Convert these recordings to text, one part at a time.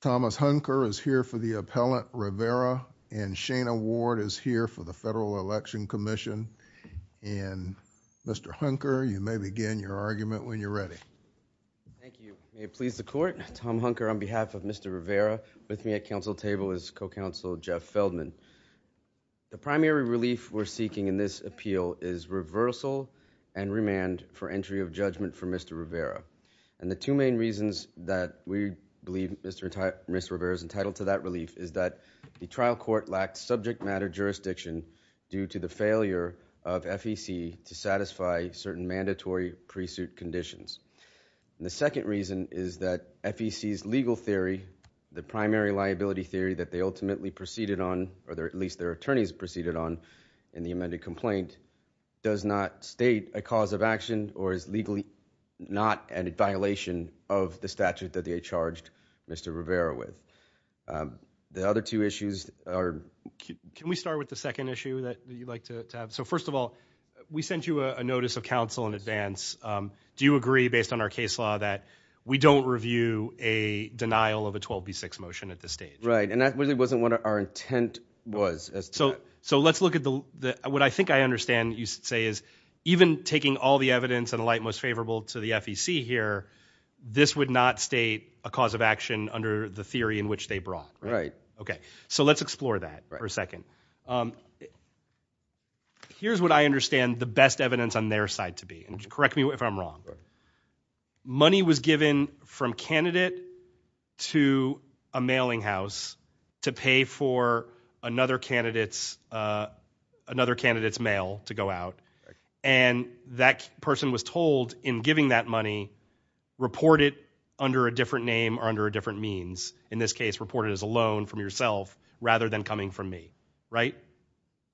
Thomas Hunker is here for the appellant Rivera and Shana Ward is here for the Federal Election Commission and Mr. Hunker you may begin your argument when you're ready. Thank you. May it please the court. Tom Hunker on behalf of Mr. Rivera with me at counsel table is co-counsel Jeff Feldman. The primary relief we're seeking in this appeal is reversal and remand for entry of judgment for Mr. Rivera and the two main reasons that we believe Mr. Rivera is entitled to that relief is that the trial court lacked subject matter jurisdiction due to the failure of FEC to satisfy certain mandatory pre-suit conditions. The second reason is that FEC's legal theory the primary liability theory that they ultimately proceeded on or there at least their attorneys proceeded on in the amended complaint does not state a cause of action or is legally not a violation of the statute that they charged Mr. Rivera with. The other two issues are can we start with the second issue that you'd like to have so first of all we sent you a notice of counsel in advance do you agree based on our case law that we don't review a denial of a 12b6 motion at this stage right and that really wasn't what our intent was so so let's look at the what I think I understand you say is even taking all the evidence and the light most favorable to the FEC here this would not state a cause of action under the theory in which they brought right okay so let's explore that for a second here's what I understand the best evidence on their side to be and correct me if I'm wrong money was given from candidate to a mailing house to pay for another candidates another candidates mail to go out and that person was told in giving that money report it under a different name or under a different means in this case reported as a loan from yourself rather than coming from me right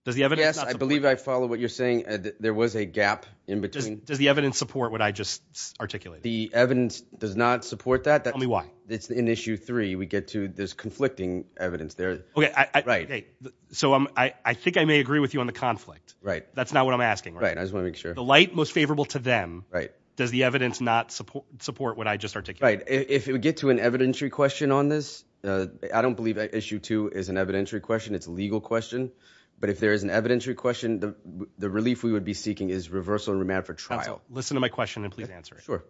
does the evidence I believe I follow what you're saying that there was a gap in between does the evidence support what I just articulate the evidence does not support that that me why it's an issue three we get to this conflicting evidence there so I think I may agree with you on the conflict right that's not what I'm asking right I just wanna make sure the light most favorable to them right does the evidence not support support what I just articulate if you get to an evidentiary question on this I don't believe that issue to is an evidentiary question it's legal question but if there is an evidentiary question the relief we would be seeking is reversal remand for trial listen to my question and please answer sure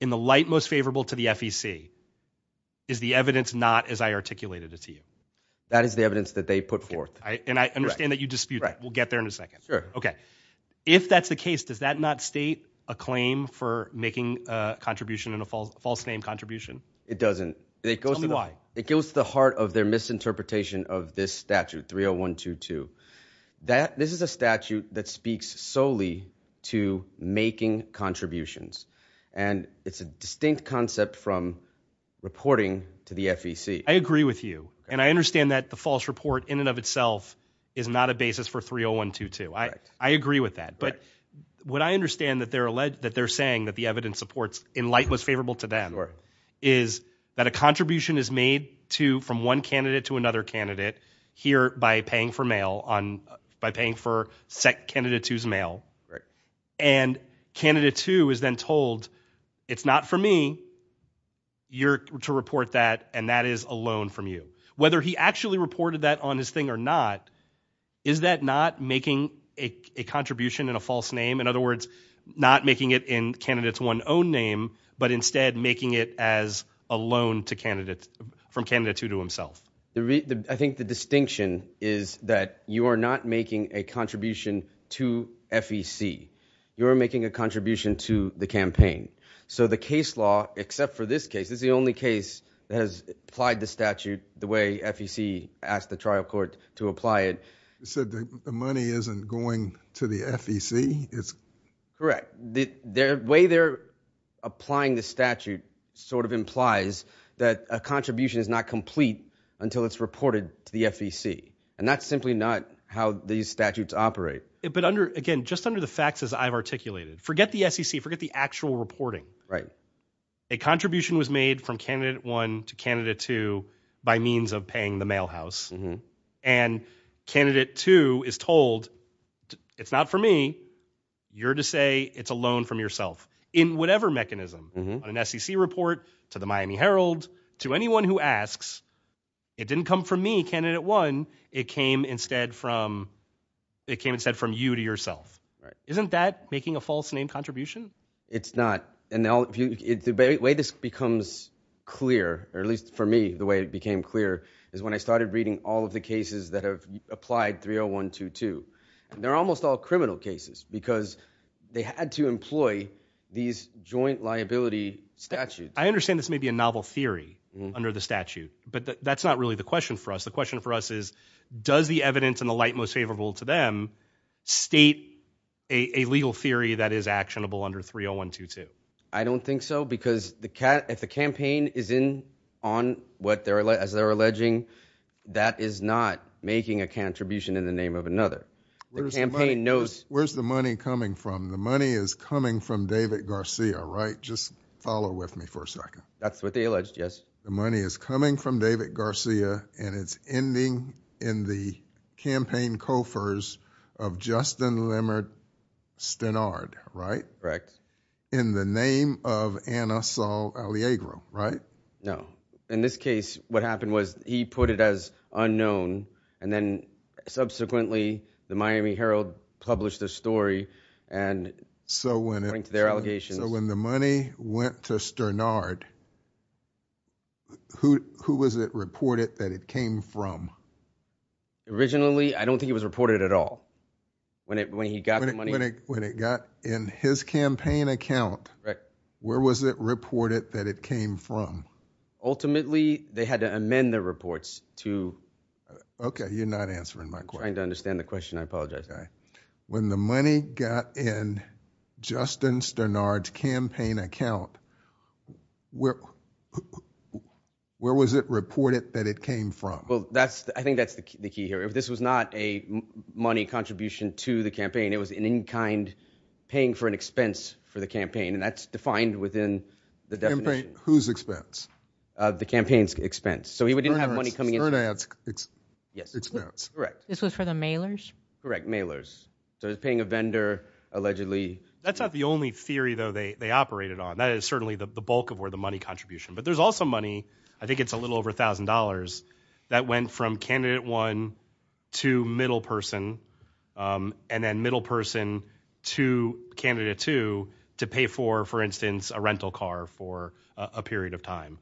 in the light most favorable to the FEC is the evidence not as I articulated it to you that is the evidence that they put forth I and I understand that you dispute right we'll get there in a second okay if that's the case does that not state a claim for making a contribution in a false name contribution it doesn't it goes to why it goes to the heart of their misinterpretation of this statute 30122 that this is a statute that speaks solely to making contributions and it's a distinct concept from reporting to the FEC I agree with you and I understand that the false report in and of itself is not a basis for 30122 I I agree with that but what I understand that they're alleged that they're saying that the evidence supports in light most favorable to them or is that a contribution is made to from one candidate to another candidate here by paying for mail on by paying for sec candidate who's mail right and candidate who is then told it's not for me you're to report that and that is a loan from you whether he actually reported that on his thing or not is that not making a contribution in a false name in other making it in candidates one own name but instead making it as a loan to candidates from Canada to to himself the I think the distinction is that you are not making a contribution to FEC you're making a contribution to the campaign so the case law except for this case is the only case that has applied the statute the way FEC asked the trial court to apply it said the money isn't going to the FEC it's correct the way they're applying the statute sort of implies that a contribution is not complete until it's reported to the FEC and that's simply not how these statutes operate it but under again just under the facts as I've articulated forget the SEC forget the actual reporting right a contribution was made from candidate one to candidate two by means of paying the for me you're to say it's a loan from yourself in whatever mechanism an SEC report to the Miami Herald to anyone who asks it didn't come from me candidate one it came instead from it came instead from you to yourself isn't that making a false name contribution it's not and now if you debate way this becomes clear or at least for me the way it became clear is when I started reading all of the because they had to employ these joint liability statute I understand this may be a novel theory under the statute but that's not really the question for us the question for us is does the evidence and the light most favorable to them state a legal theory that is actionable under 301 to 2 I don't think so because the cat if the campaign is in on what they're like as they're alleging that is not making a contribution in the name of another campaign knows where's the money coming from the money is coming from David Garcia right just follow with me for a second that's what they alleged yes the money is coming from David Garcia and it's ending in the campaign cofers of Justin limerick stannard right correct in the name of an assault on the agro right now in this case what happened was he put it as unknown and then subsequently the Miami Herald published a story and so when into their allegations when the money went to sternard who who was it reported that it came from originally I don't think it was reported at all when it when he got money when it got in his campaign account right where was it reported that it came from ultimately they had to reports to okay you're not answering my question to understand the question I apologize okay when the money got in Justin sternard campaign account where where was it reported that it came from well that's I think that's the key here if this was not a money contribution to the campaign it was an in-kind paying for an expense for the campaign and that's defined within the different whose expense the campaign's expense so he would have money coming in yes correct this was for the mailers correct mailers so it's paying a vendor allegedly that's not the only theory though they operated on that is certainly the bulk of where the money contribution but there's also money I think it's a little over thousand dollars that went from candidate one to middle person and then middle person to candidate two to pay for for instance a rental car for a period of time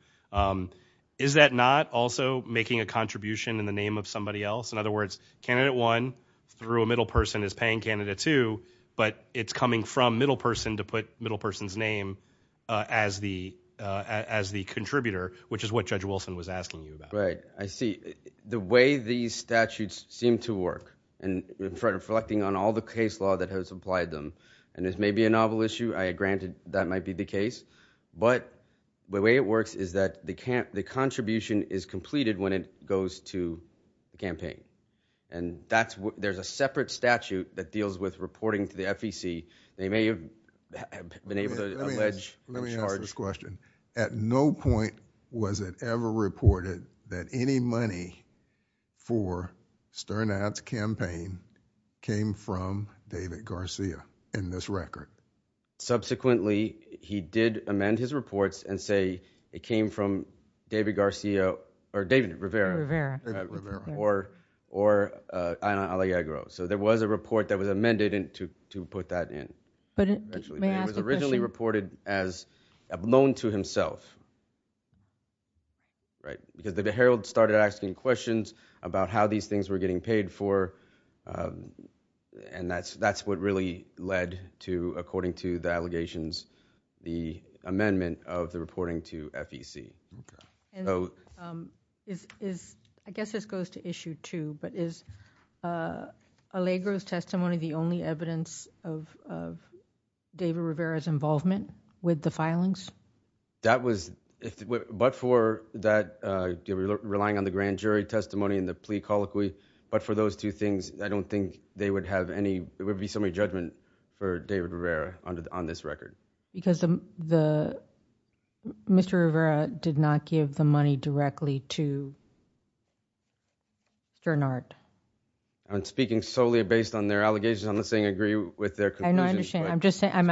is that not also making a contribution in the name of somebody else in other words candidate one through a middle person is paying candidate two but it's coming from middle person to put middle person's name as the as the contributor which is what judge Wilson was asking you about right I see the way these statutes seem to work and Fred reflecting on all the case law that has applied them and this may be a novel issue I granted that might be the case but the way it works is that they can't the contribution is completed when it goes to campaign and that's what there's a separate statute that deals with reporting to the FEC they may have been able to charge this question at no point was it ever reported that any money for stern ads campaign came from David Garcia in this record subsequently he did amend his reports and say it came from David Garcia or David Rivera or or I like I grow so there was a report that was amended into to put that in but it was originally reported as a loan to himself right because the Herald started asking questions about how these things were getting paid for and that's that's what really led to according to the allegations the amendment of the reporting to FEC is I guess this goes to issue too but is Allegra's testimony the only evidence of David Rivera's involvement with the filings that was but for that you're relying on the grand jury testimony in the plea colloquy but for those two things I don't think they would have any it would be so many judgment for David Rivera on this record because the mr. Rivera did not give the money directly to turn art I'm speaking solely based on their allegations on the saying agree with their condition I'm just saying I'm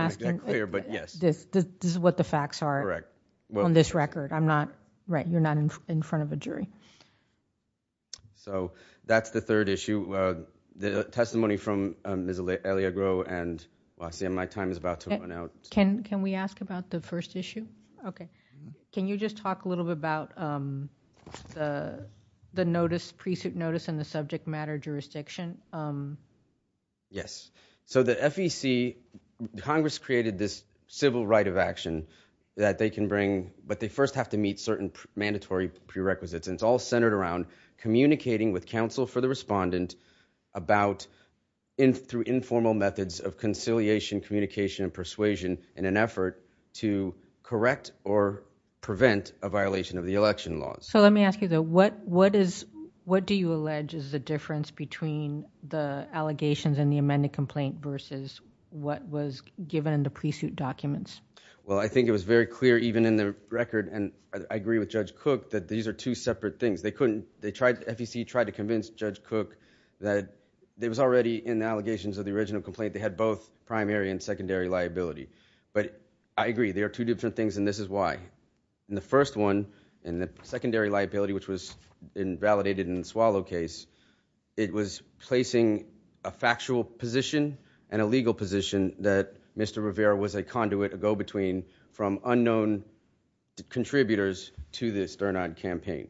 facts are correct well on this record I'm not right you're not in front of a jury so that's the third issue the testimony from Miss Elliot grow and I see my time is about to run out can can we ask about the first issue okay can you just talk a little bit about the the notice pre-suit notice and the subject matter jurisdiction yes so the FEC Congress created this civil right of action that they can bring but they first have to meet certain mandatory prerequisites and it's all centered around communicating with counsel for the respondent about in through informal methods of conciliation communication and persuasion in an effort to correct or prevent a violation of the election laws so let me ask you though what what is what do you allege is the difference between the allegations and the amended complaint versus what was given in the well I think it was very clear even in the record and I agree with judge cook that these are two separate things they couldn't they tried to FEC tried to convince judge cook that there was already in the allegations of the original complaint they had both primary and secondary liability but I agree there are two different things and this is why in the first one and the secondary liability which was invalidated in the swallow case it was placing a factual position and a legal position that mr. Rivera was a conduit a between from unknown contributors to this turn on campaign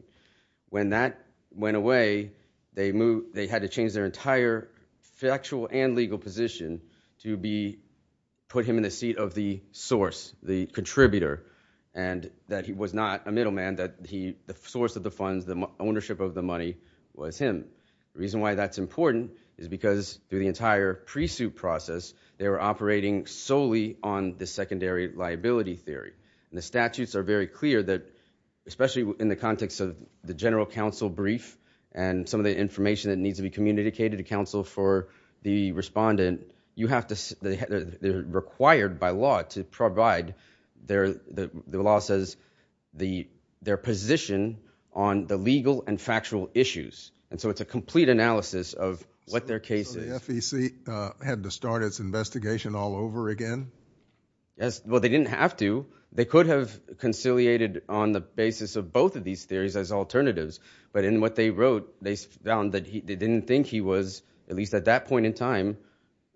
when that went away they moved they had to change their entire factual and legal position to be put him in the seat of the source the contributor and that he was not a middleman that he the source of the funds the ownership of the money was him the reason why that's important is because through the entire pre-suit process they were operating solely on the secondary liability theory and the statutes are very clear that especially in the context of the general counsel brief and some of the information that needs to be communicated to counsel for the respondent you have to they're required by law to provide their the law says the their position on the legal and factual issues and so it's a complete analysis of what their case had to start its investigation all over again yes well they didn't have to they could have conciliated on the basis of both of these theories as alternatives but in what they wrote they found that he didn't think he was at least at that point in time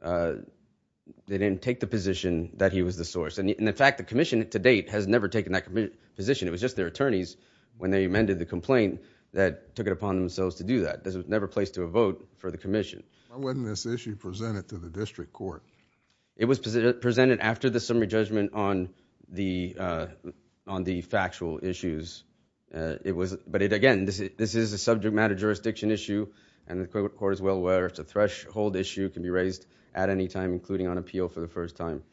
they didn't take the position that he was the source and in fact the Commission to date has never taken that position it was just their attorneys when they amended the vote for the Commission when this issue presented to the district court it was presented after the summary judgment on the on the factual issues it was but it again this is this is a subject matter jurisdiction issue and the court as well where it's a threshold issue can be raised at any time including on appeal for the first time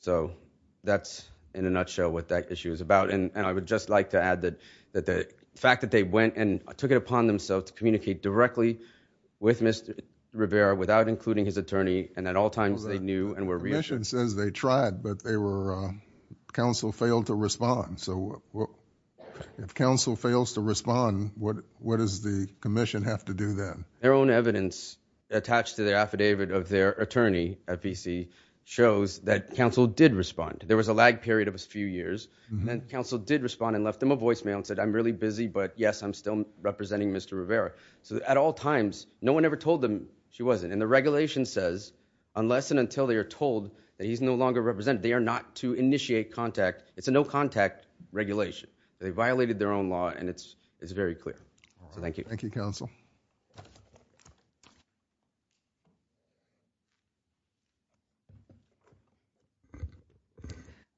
so that's in a nutshell what that issue is about and I would just like to add that that the fact that they went and took it upon themselves to communicate directly with Mr. Rivera without including his attorney and at all times they knew and were reassured says they tried but they were counsel failed to respond so if counsel fails to respond what what does the Commission have to do that their own evidence attached to the affidavit of their attorney at BC shows that counsel did respond there was a lag period of a few years and then counsel did respond and left them a voicemail and said I'm really busy but yes I'm still representing Mr. Rivera so at all times no one ever told them she wasn't and the regulation says unless and until they are told that he's no longer represented they are not to initiate contact it's a no contact regulation they violated their own law and it's it's very clear so thank you thank you counsel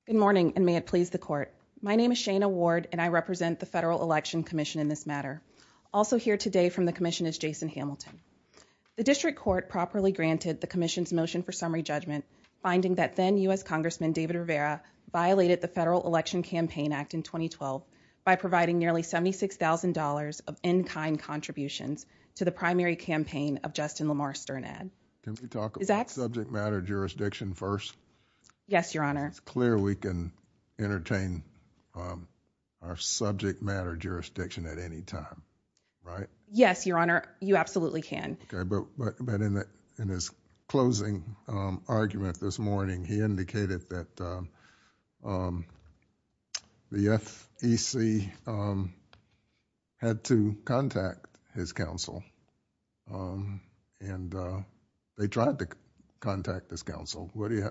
good morning and may it please the court my name is Shana Ward and I represent the Federal Election Commission in this matter also here today from the commission is Jason Hamilton the district court properly granted the Commission's motion for summary judgment finding that then US congressman David Rivera violated the Federal Election Campaign Act in 2012 by providing nearly seventy six thousand dollars of in-kind contributions to the primary campaign of Justin Lamar Stern ad can we talk about subject matter jurisdiction first yes your honor it's clear we can entertain our subject matter jurisdiction at any time right yes your honor you absolutely can but in that in his closing argument this morning he indicated that the FEC had to contact his counsel and they tried to contact this council what do you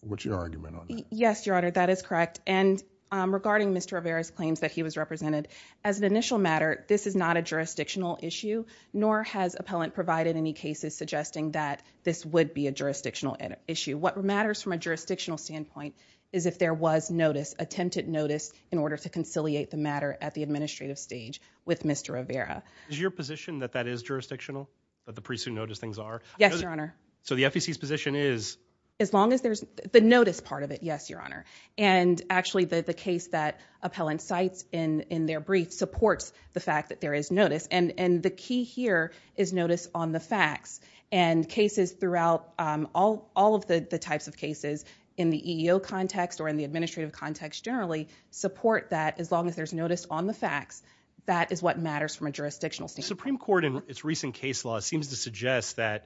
what's your argument on yes your honor that is correct and regarding mr. Rivera's claims that he was represented as an initial matter this is not a jurisdictional issue nor has appellant provided any cases suggesting that this would be a jurisdictional issue what matters from a jurisdictional standpoint is if there was notice attempted notice in order to conciliate the matter at the administrative stage with mr. Rivera is your position that that is jurisdictional that the precinct notice things are yes your honor so the FEC's position is as long as there's the notice part of it yes your honor and actually the the case that appellant cites in in their brief supports the fact that there is notice and and the key here is notice on the facts and cases throughout all all of the the types of cases in the EEO context or in the administrative context generally support that as long as there's notice on the facts that is what matters from a that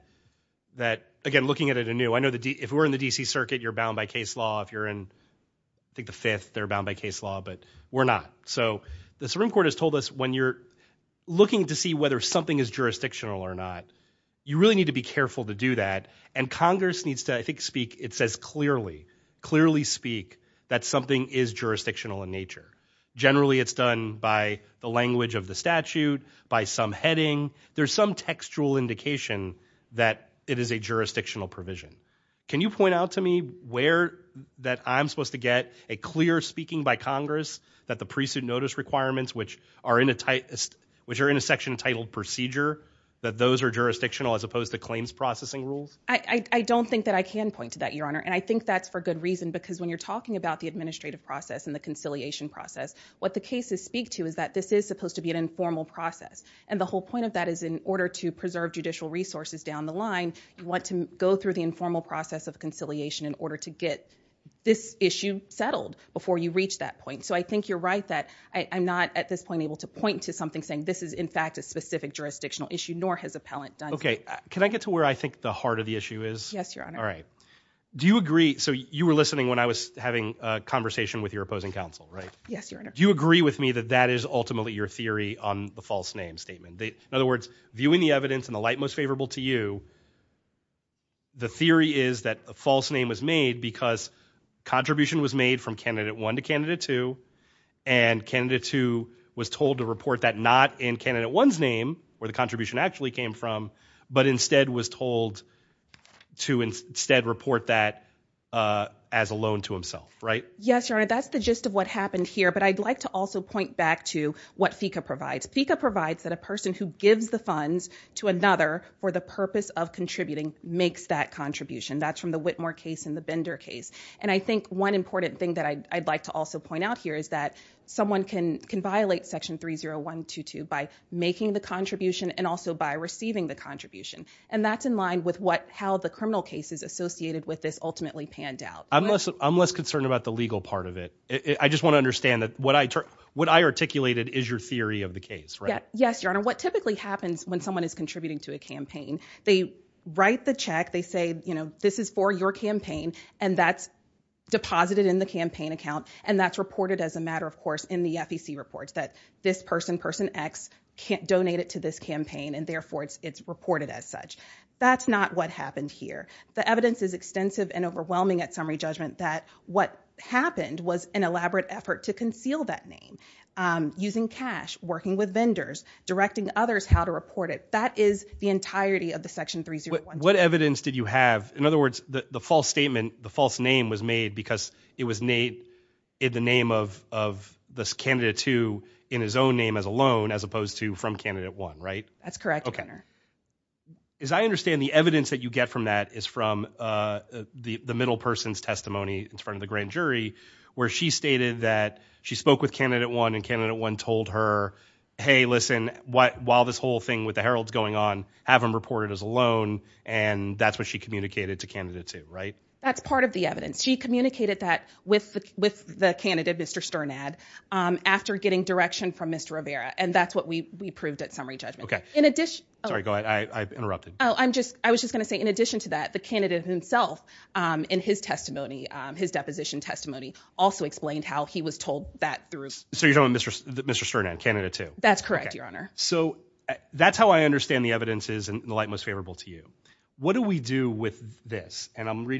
that again looking at it anew I know the D if we're in the DC Circuit you're bound by case law if you're in I think the fifth they're bound by case law but we're not so the Supreme Court has told us when you're looking to see whether something is jurisdictional or not you really need to be careful to do that and Congress needs to I think speak it says clearly clearly speak that something is jurisdictional in nature generally it's done by the language of heading there's some textual indication that it is a jurisdictional provision can you point out to me where that I'm supposed to get a clear speaking by Congress that the precinct notice requirements which are in a tight which are in a section titled procedure that those are jurisdictional as opposed to claims processing rules I don't think that I can point to that your honor and I think that's for good reason because when you're talking about the administrative process and the conciliation process what the cases speak to is that this is supposed to be an informal process and the whole point of that is in order to preserve judicial resources down the line you want to go through the informal process of conciliation in order to get this issue settled before you reach that point so I think you're right that I'm not at this point able to point to something saying this is in fact a specific jurisdictional issue nor has a pellet okay can I get to where I think the heart of the issue is yes your honor all right do you agree so you were listening when I was having a right yes you agree with me that that is ultimately your theory on the false name statement they in other words viewing the evidence and the light most favorable to you the theory is that a false name was made because contribution was made from candidate one to candidate two and candidate two was told to report that not in candidate one's name where the contribution actually came from but instead was told to instead report that as a loan to himself right yes your that's the gist of what happened here but I'd like to also point back to what FECA provides FECA provides that a person who gives the funds to another for the purpose of contributing makes that contribution that's from the Whitmore case in the Bender case and I think one important thing that I'd like to also point out here is that someone can can violate section 3 0 1 2 2 by making the contribution and also by receiving the contribution and that's in line with what how the criminal case is associated with this ultimately panned out I'm less I'm less concerned about the legal part of it I just want to understand that what I took what I articulated is your theory of the case yes your honor what typically happens when someone is contributing to a campaign they write the check they say you know this is for your campaign and that's deposited in the campaign account and that's reported as a matter of course in the FEC reports that this person person X can't donate it to this campaign and therefore it's it's reported as such that's not what happened here the evidence is extensive and overwhelming at summary judgment that what happened was an elaborate effort to conceal that name using cash working with vendors directing others how to report it that is the entirety of the section three zero what evidence did you have in other words the false statement the false name was made because it was Nate in the name of this candidate to in his own name as a loan as opposed to from candidate one right that's correct okay as I understand the evidence that you get from that is from the the middle person's testimony in front of the grand jury where she stated that she spoke with candidate one and candidate one told her hey listen what while this whole thing with the Herald's going on haven't reported as a loan and that's what she communicated to candidate to right that's part of the evidence she communicated that with with the candidate mr. Stern ad after getting direction from mr. Rivera and that's what we we proved at summary judgment okay in addition sorry go ahead I interrupted oh I'm just I was just gonna say in addition to that the candidate himself in his testimony his deposition testimony also explained how he was told that through so you don't mr. mr. Stern and candidate to that's correct your honor so that's how I understand the evidence is and the light most favorable to you what do we do with this and I'm ever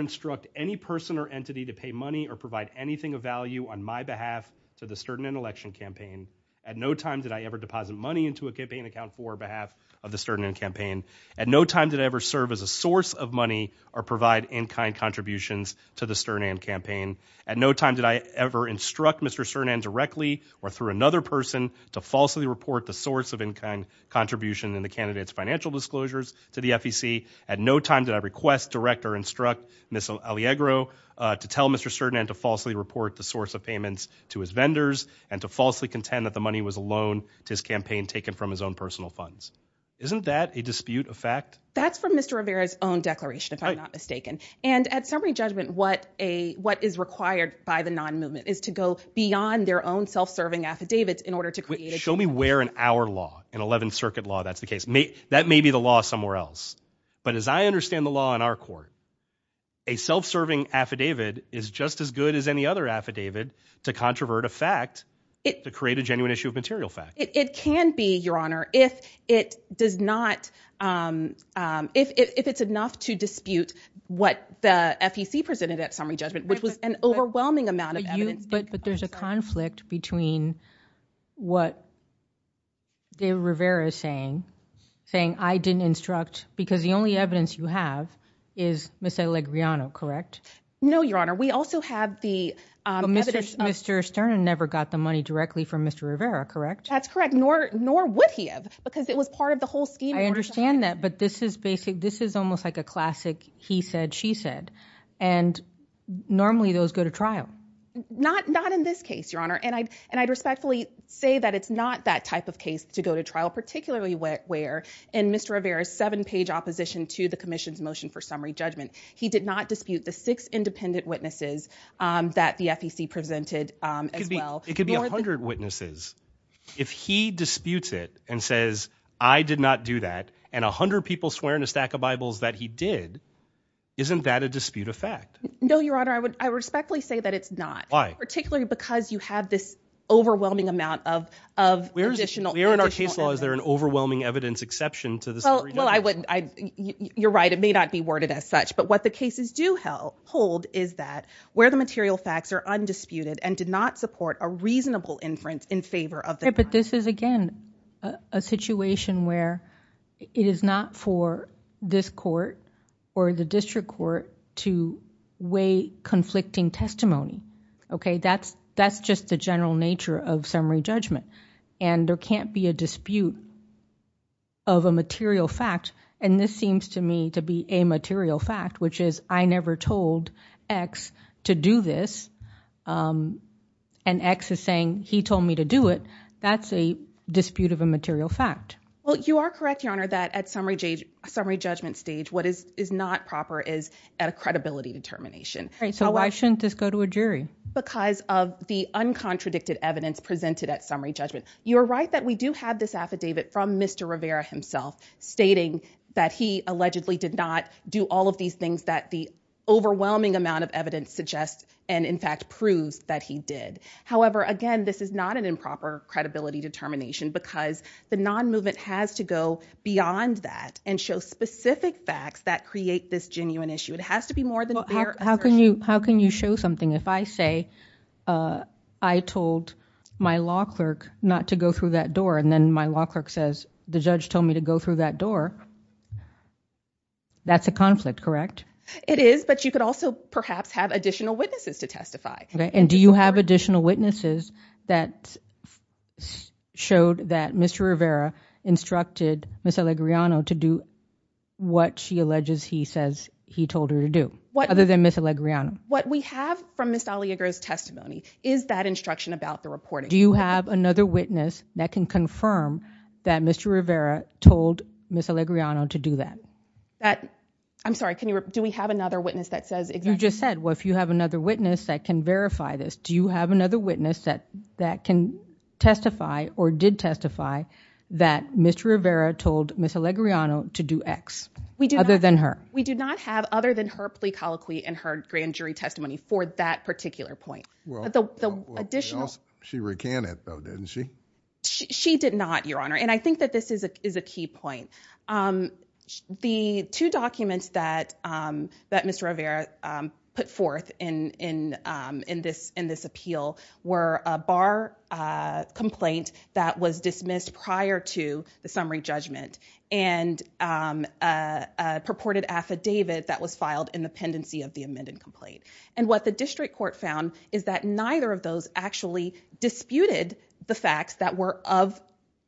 instruct any person or entity to pay money or provide anything of value on my behalf to the stern in election campaign at no time did I ever deposit money into a campaign account for behalf of the stern and campaign at no time did I ever serve as a source of money or provide in kind contributions to the stern and campaign at no time did I ever instruct mr. Stern and directly or through another person to falsely report the source of in kind contribution and the candidates financial disclosures to the FEC at no time did I request direct or instruct missile Allegro to tell mr. certain and to falsely report the source of payments to his vendors and to falsely contend that the money was a loan to his campaign taken from his own personal funds isn't that a dispute of fact that's from mr. Rivera's own declaration if I'm not mistaken and at summary judgment what a what is required by the non-movement is to go beyond their own self-serving affidavits in order to create a show me where in our law in 11th Circuit law that's the case me that may be the law somewhere else but as I understand the law in our court a self-serving affidavit is just as good as any other affidavit to controvert a fact it to create a genuine issue of material fact it can be your honor if it does not if it's enough to dispute what the FEC presented at summary judgment which was an overwhelming amount of evidence but but there's a conflict between what they saying saying I didn't instruct because the only evidence you have is miss a leg Riano correct no your honor we also have the mr. Stern and never got the money directly from mr. Rivera correct that's correct nor nor would he have because it was part of the whole scheme I understand that but this is basic this is almost like a classic he said she said and normally those go to trial not not in this case your honor and I and I'd respectfully say that it's not that type of case to go to trial particularly wet where in mr. Rivera seven-page opposition to the Commission's motion for summary judgment he did not dispute the six independent witnesses that the FEC presented as well it could be 100 witnesses if he disputes it and says I did not do that and a hundred people swear in a stack of Bibles that he did isn't that a dispute effect no your honor I would I respectfully say that it's not why particularly because you have this overwhelming amount of of we're additional here in our case laws there an overwhelming evidence exception to the well I wouldn't I you're right it may not be worded as such but what the cases do hell hold is that where the material facts are undisputed and did not support a reasonable inference in favor of the but this is again a situation where it is not for this court or the district court to weigh okay that's that's just the general nature of summary judgment and there can't be a dispute of a material fact and this seems to me to be a material fact which is I never told X to do this and X is saying he told me to do it that's a dispute of a material fact well you are correct your honor that at summary judge summary judgment stage what is is not proper is at a determination so why shouldn't this go to a jury because of the uncontradicted evidence presented at summary judgment you are right that we do have this affidavit from mr. Rivera himself stating that he allegedly did not do all of these things that the overwhelming amount of evidence suggests and in fact proves that he did however again this is not an improper credibility determination because the non-movement has to go beyond that and show specific facts that create this genuine issue it has to be more than how can you how can you show something if I say I told my law clerk not to go through that door and then my law clerk says the judge told me to go through that door that's a conflict correct it is but you could also perhaps have additional witnesses to testify okay and do you have additional witnesses that showed that mr. Rivera instructed miss Alegriano to do what she alleges he says he told her to do what other than miss Alegriano what we have from miss Dahlia grows testimony is that instruction about the reporting do you have another witness that can confirm that mr. Rivera told miss Alegriano to do that that I'm sorry can you do we have another witness that says if you just said well if you have another witness that can verify this do you have another witness that that can testify or did testify that mr. Rivera told miss Alegriano to do X we do other than her we do not have other than her plea colloquy and her grand jury testimony for that particular point she recanted though didn't she she did not your honor and I think that this is a is a key point the two documents that that mr. Rivera put forth in in in this in this appeal were a bar complaint that was dismissed prior to the summary judgment and purported affidavit that was filed in the pendency of the amended complaint and what the district court found is that neither of those actually disputed the facts that were of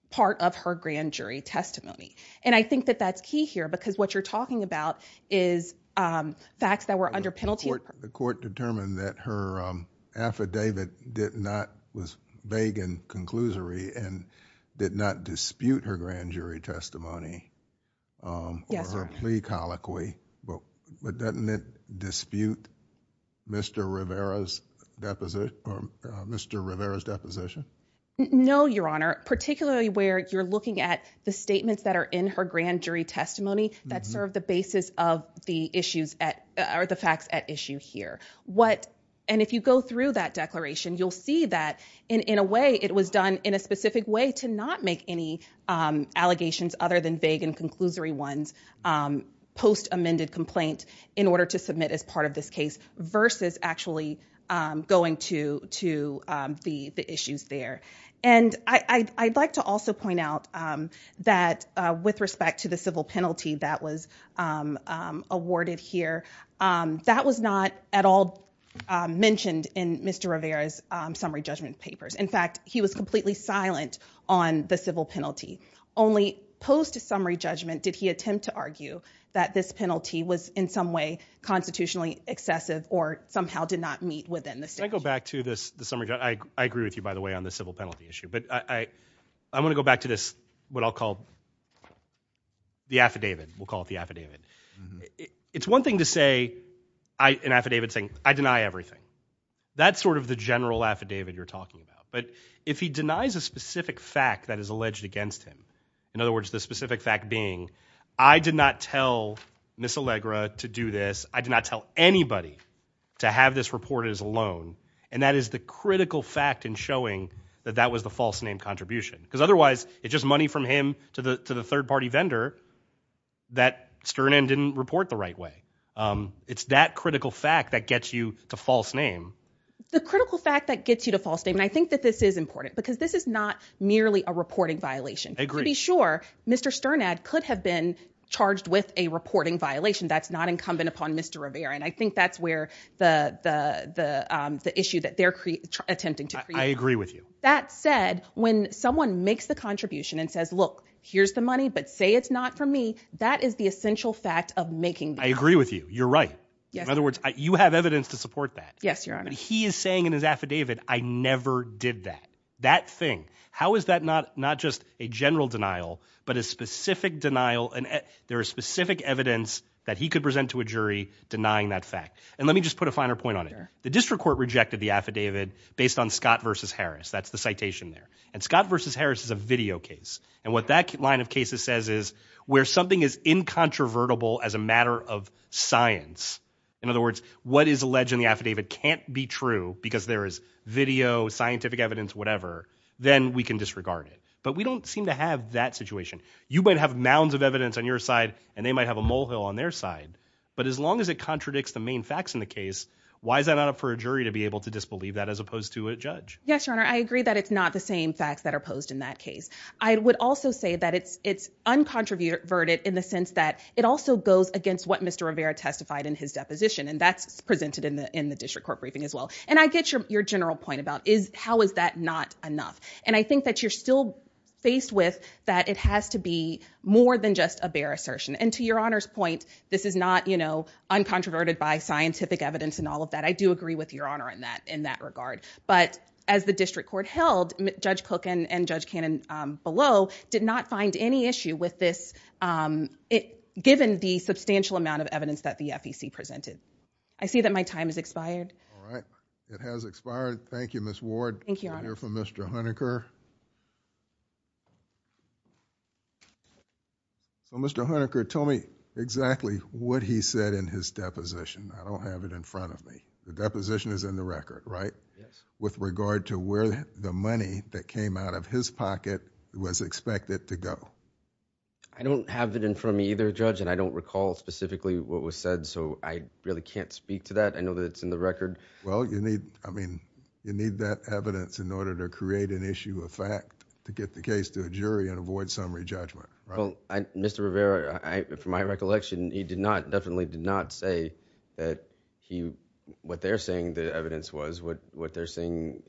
part of her grand jury testimony and I think that that's key here because what you're talking about is facts that were under penalty the court determined that her affidavit did not was vague and conclusory and did not dispute her grand jury testimony plea colloquy well but doesn't it dispute mr. Rivera's deposit mr. Rivera's deposition no your honor particularly where you're looking at the statements that are in her grand jury testimony that serve the basis of the issues at or the facts at issue here what and if you go through that declaration you'll see that in in a way it was done in a specific way to not make any allegations other than vague and conclusory ones post amended complaint in order to submit as part of this case versus actually going to to the the issues there and I'd like to also point out that with respect to the civil penalty that was awarded here that was not at all mentioned in mr. Rivera's summary judgment papers in fact he was completely silent on the civil penalty only post-summary judgment did he attempt to argue that this penalty was in some way constitutionally excessive or somehow did not meet within the cycle back to this summer I agree with you by the way on the civil penalty issue but I I'm gonna go back to this what I'll call the affidavit we'll call it the affidavit it's one thing to say I an affidavit saying I deny everything that's sort of the general affidavit you're talking about but if he denies a specific fact that is alleged against him in other words the specific fact being I did not tell miss Allegra to do this I did not tell anybody to have this report is alone and that is the critical fact in showing that that was the false name contribution because otherwise it's just money from him to the to the third-party vendor that stern and didn't report the right way it's that critical fact that gets you to false name the critical fact that gets you to false name and I think that this is important because this is not merely a reporting violation agree sure mr. Stern ad could have been charged with a reporting violation that's not incumbent upon mr. Rivera and I think that's where the the the issue that they're attempting to I agree with you that said when someone makes the contribution and says look here's the money but say it's not for me that is the essential fact of making I agree with you you're right in other words you have evidence to support that yes your honor he is saying in his affidavit I never did that that thing how is that not not just a general denial but a specific denial and there are specific evidence that he could present to a jury denying that fact and let me just put a finer point on it the district court rejected the affidavit based on Scott versus Harris that's the citation there and Scott versus Harris is a video case and what that line of cases says is where something is incontrovertible as a matter of science in other words what is alleged in the affidavit can't be true because there is video scientific evidence whatever then we can disregard it but we don't seem to have that situation you might have mounds of evidence on your side and they might have a molehill on their side but as long as it contradicts the main facts in the case why is that not up for a jury to be able to disbelieve that as opposed to a judge yes your honor I agree that it's not the same facts that are posed in that case I would also say that it's it's uncontroverted in the sense that it also goes against what mr. Rivera testified in his deposition and that's presented in the in the district court briefing as well and I get your general point about is how is that not enough and I think that you're still faced with that it has to be more than just a bare assertion and to your honors point this is not you know uncontroverted by scientific evidence and all of that I do agree with your honor in that in that regard but as the district court held judge cookin and judge cannon below did not find any issue with this it given the substantial amount of evidence that the FEC presented I see that my time is expired all right it has expired thank you miss ward thank you for mr. Hunter Kerr so mr. Hunter Kerr told me exactly what he said in his deposition I don't have it in front of me the deposition is in the record right with regard to where the money that came out of his pocket was expected to go I don't have it in front of me either judge and I don't recall specifically what was said so I really can't speak to that I know that it's in the record well you need I mean you need that evidence in order to create an issue of fact to get the case to a jury and avoid summary judgment well I mr. Rivera I for my recollection he did not definitely did not say that he what they're saying the evidence was what what they're saying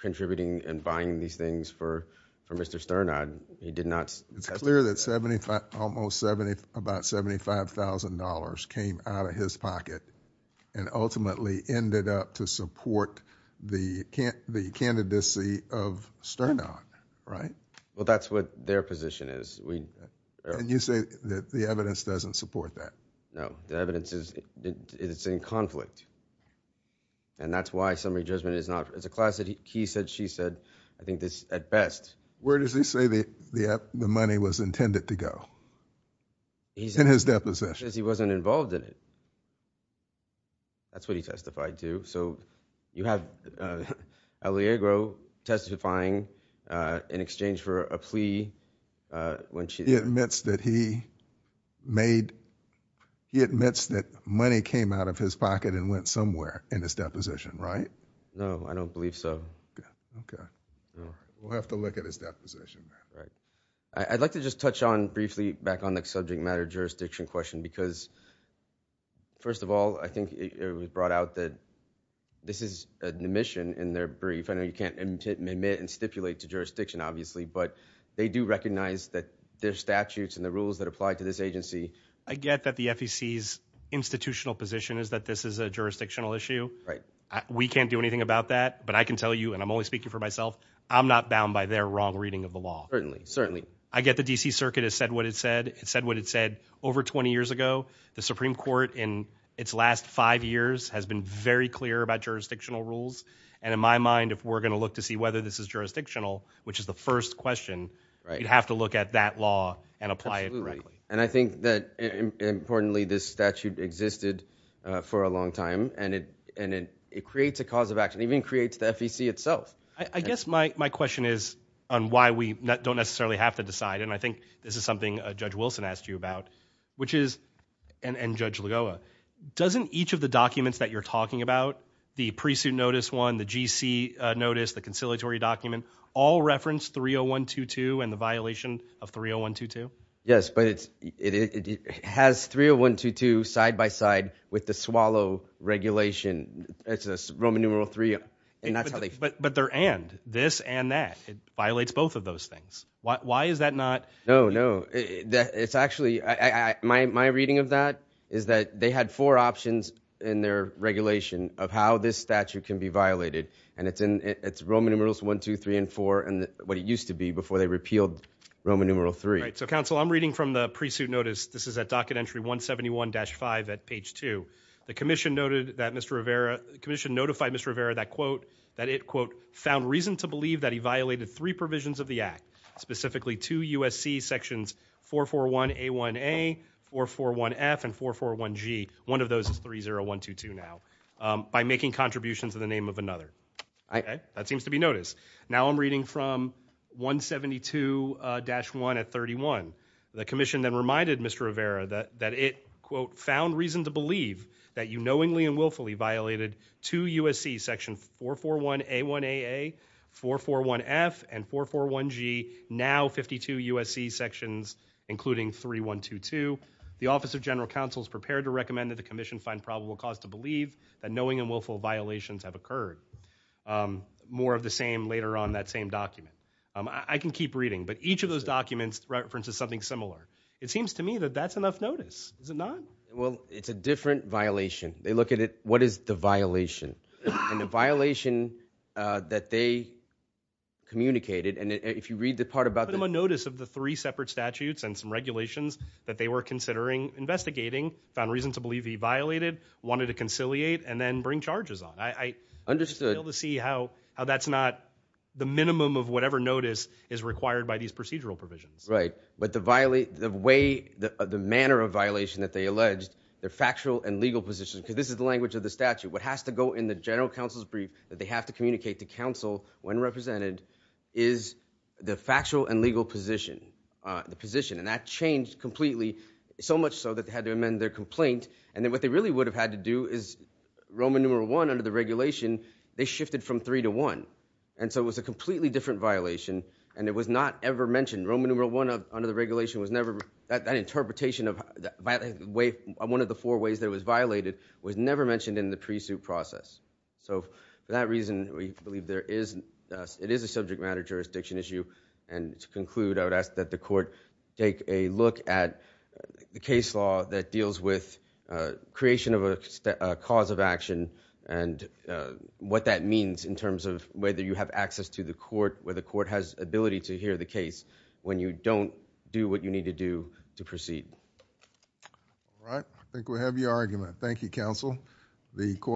contributing and buying these things for for mr. Stern I'd he did not it's clear that 75 almost 70 about $75,000 came out of his pocket and ultimately ended up to support the can't the candidacy of Stern on right well that's what their position is we and you say that the evidence doesn't support that no the evidence is it's in conflict and that's why summary judgment is not as a class that he said she said I think this at best where does he say the the app the money was intended to go he's in his deposition as he wasn't involved in it that's what he testified to so you have Elie Agro testifying in exchange for a plea when she admits that he made he admits that money came out of his pocket and went somewhere in this deposition right no I don't believe so okay we'll have to look at his deposition right I'd just touch on briefly back on the subject matter jurisdiction question because first of all I think it was brought out that this is an admission in their brief and you can't admit and stipulate to jurisdiction obviously but they do recognize that their statutes and the rules that apply to this agency I get that the FEC's institutional position is that this is a jurisdictional issue right we can't do anything about that but I can tell you and I'm only speaking for myself I'm not bound by their wrong reading of the law certainly I get the DC Circuit has said what it said it said what it said over 20 years ago the Supreme Court in its last five years has been very clear about jurisdictional rules and in my mind if we're gonna look to see whether this is jurisdictional which is the first question you'd have to look at that law and apply it and I think that importantly this statute existed for a long time and it and it creates a cause of action even creates the FEC itself I don't necessarily have to decide and I think this is something Judge Wilson asked you about which is and Judge Lagoa doesn't each of the documents that you're talking about the pre-suit notice one the GC notice the conciliatory document all referenced 30122 and the violation of 30122 yes but it's it has 30122 side-by-side with the swallow regulation it's a Roman numeral three up but but there and this and that it violates both of those things why is that not no no it's actually my reading of that is that they had four options in their regulation of how this statute can be violated and it's in its Roman numerals one two three and four and what it used to be before they repealed Roman numeral three so counsel I'm reading from the pre-suit notice this is a docket entry 171 5 at page 2 the Commission noted that mr. Rivera the that it quote found reason to believe that he violated three provisions of the act specifically to USC sections 441 a 1a or 41 F and 441 G one of those is 30122 now by making contributions in the name of another I that seems to be noticed now I'm reading from 172 dash 1 at 31 the Commission then reminded mr. Rivera that that it quote found reason to believe that you knowingly and 441 a 1a a 441 F and 441 G now 52 USC sections including 3122 the Office of General Counsel is prepared to recommend that the Commission find probable cause to believe that knowing and willful violations have occurred more of the same later on that same document I can keep reading but each of those documents references something similar it seems to me that that's enough notice is it not well it's a different violation they look at it what is the violation and the violation that they communicated and if you read the part about them a notice of the three separate statutes and some regulations that they were considering investigating found reason to believe he violated wanted to conciliate and then bring charges on I understood to see how how that's not the minimum of whatever notice is required by these procedural provisions right but the violate the way the manner of violation that they alleged their factual and legal positions because this is the language of the statute what has to go in the General Counsel's brief that they have to communicate to counsel when represented is the factual and legal position the position and that changed completely so much so that they had to amend their complaint and then what they really would have had to do is Roman numeral one under the regulation they shifted from three to one and so it was a completely different violation and it was not ever mentioned Roman numeral one of under the regulation was never that that interpretation of by the way I'm one of the four ways that it was so for that reason we believe there is it is a subject matter jurisdiction issue and to conclude I would ask that the court take a look at the case law that deals with creation of a cause of action and what that means in terms of whether you have access to the court where the court has ability to hear the case when you don't do what you need to do to proceed all right I think we have your argument Thank You counsel the court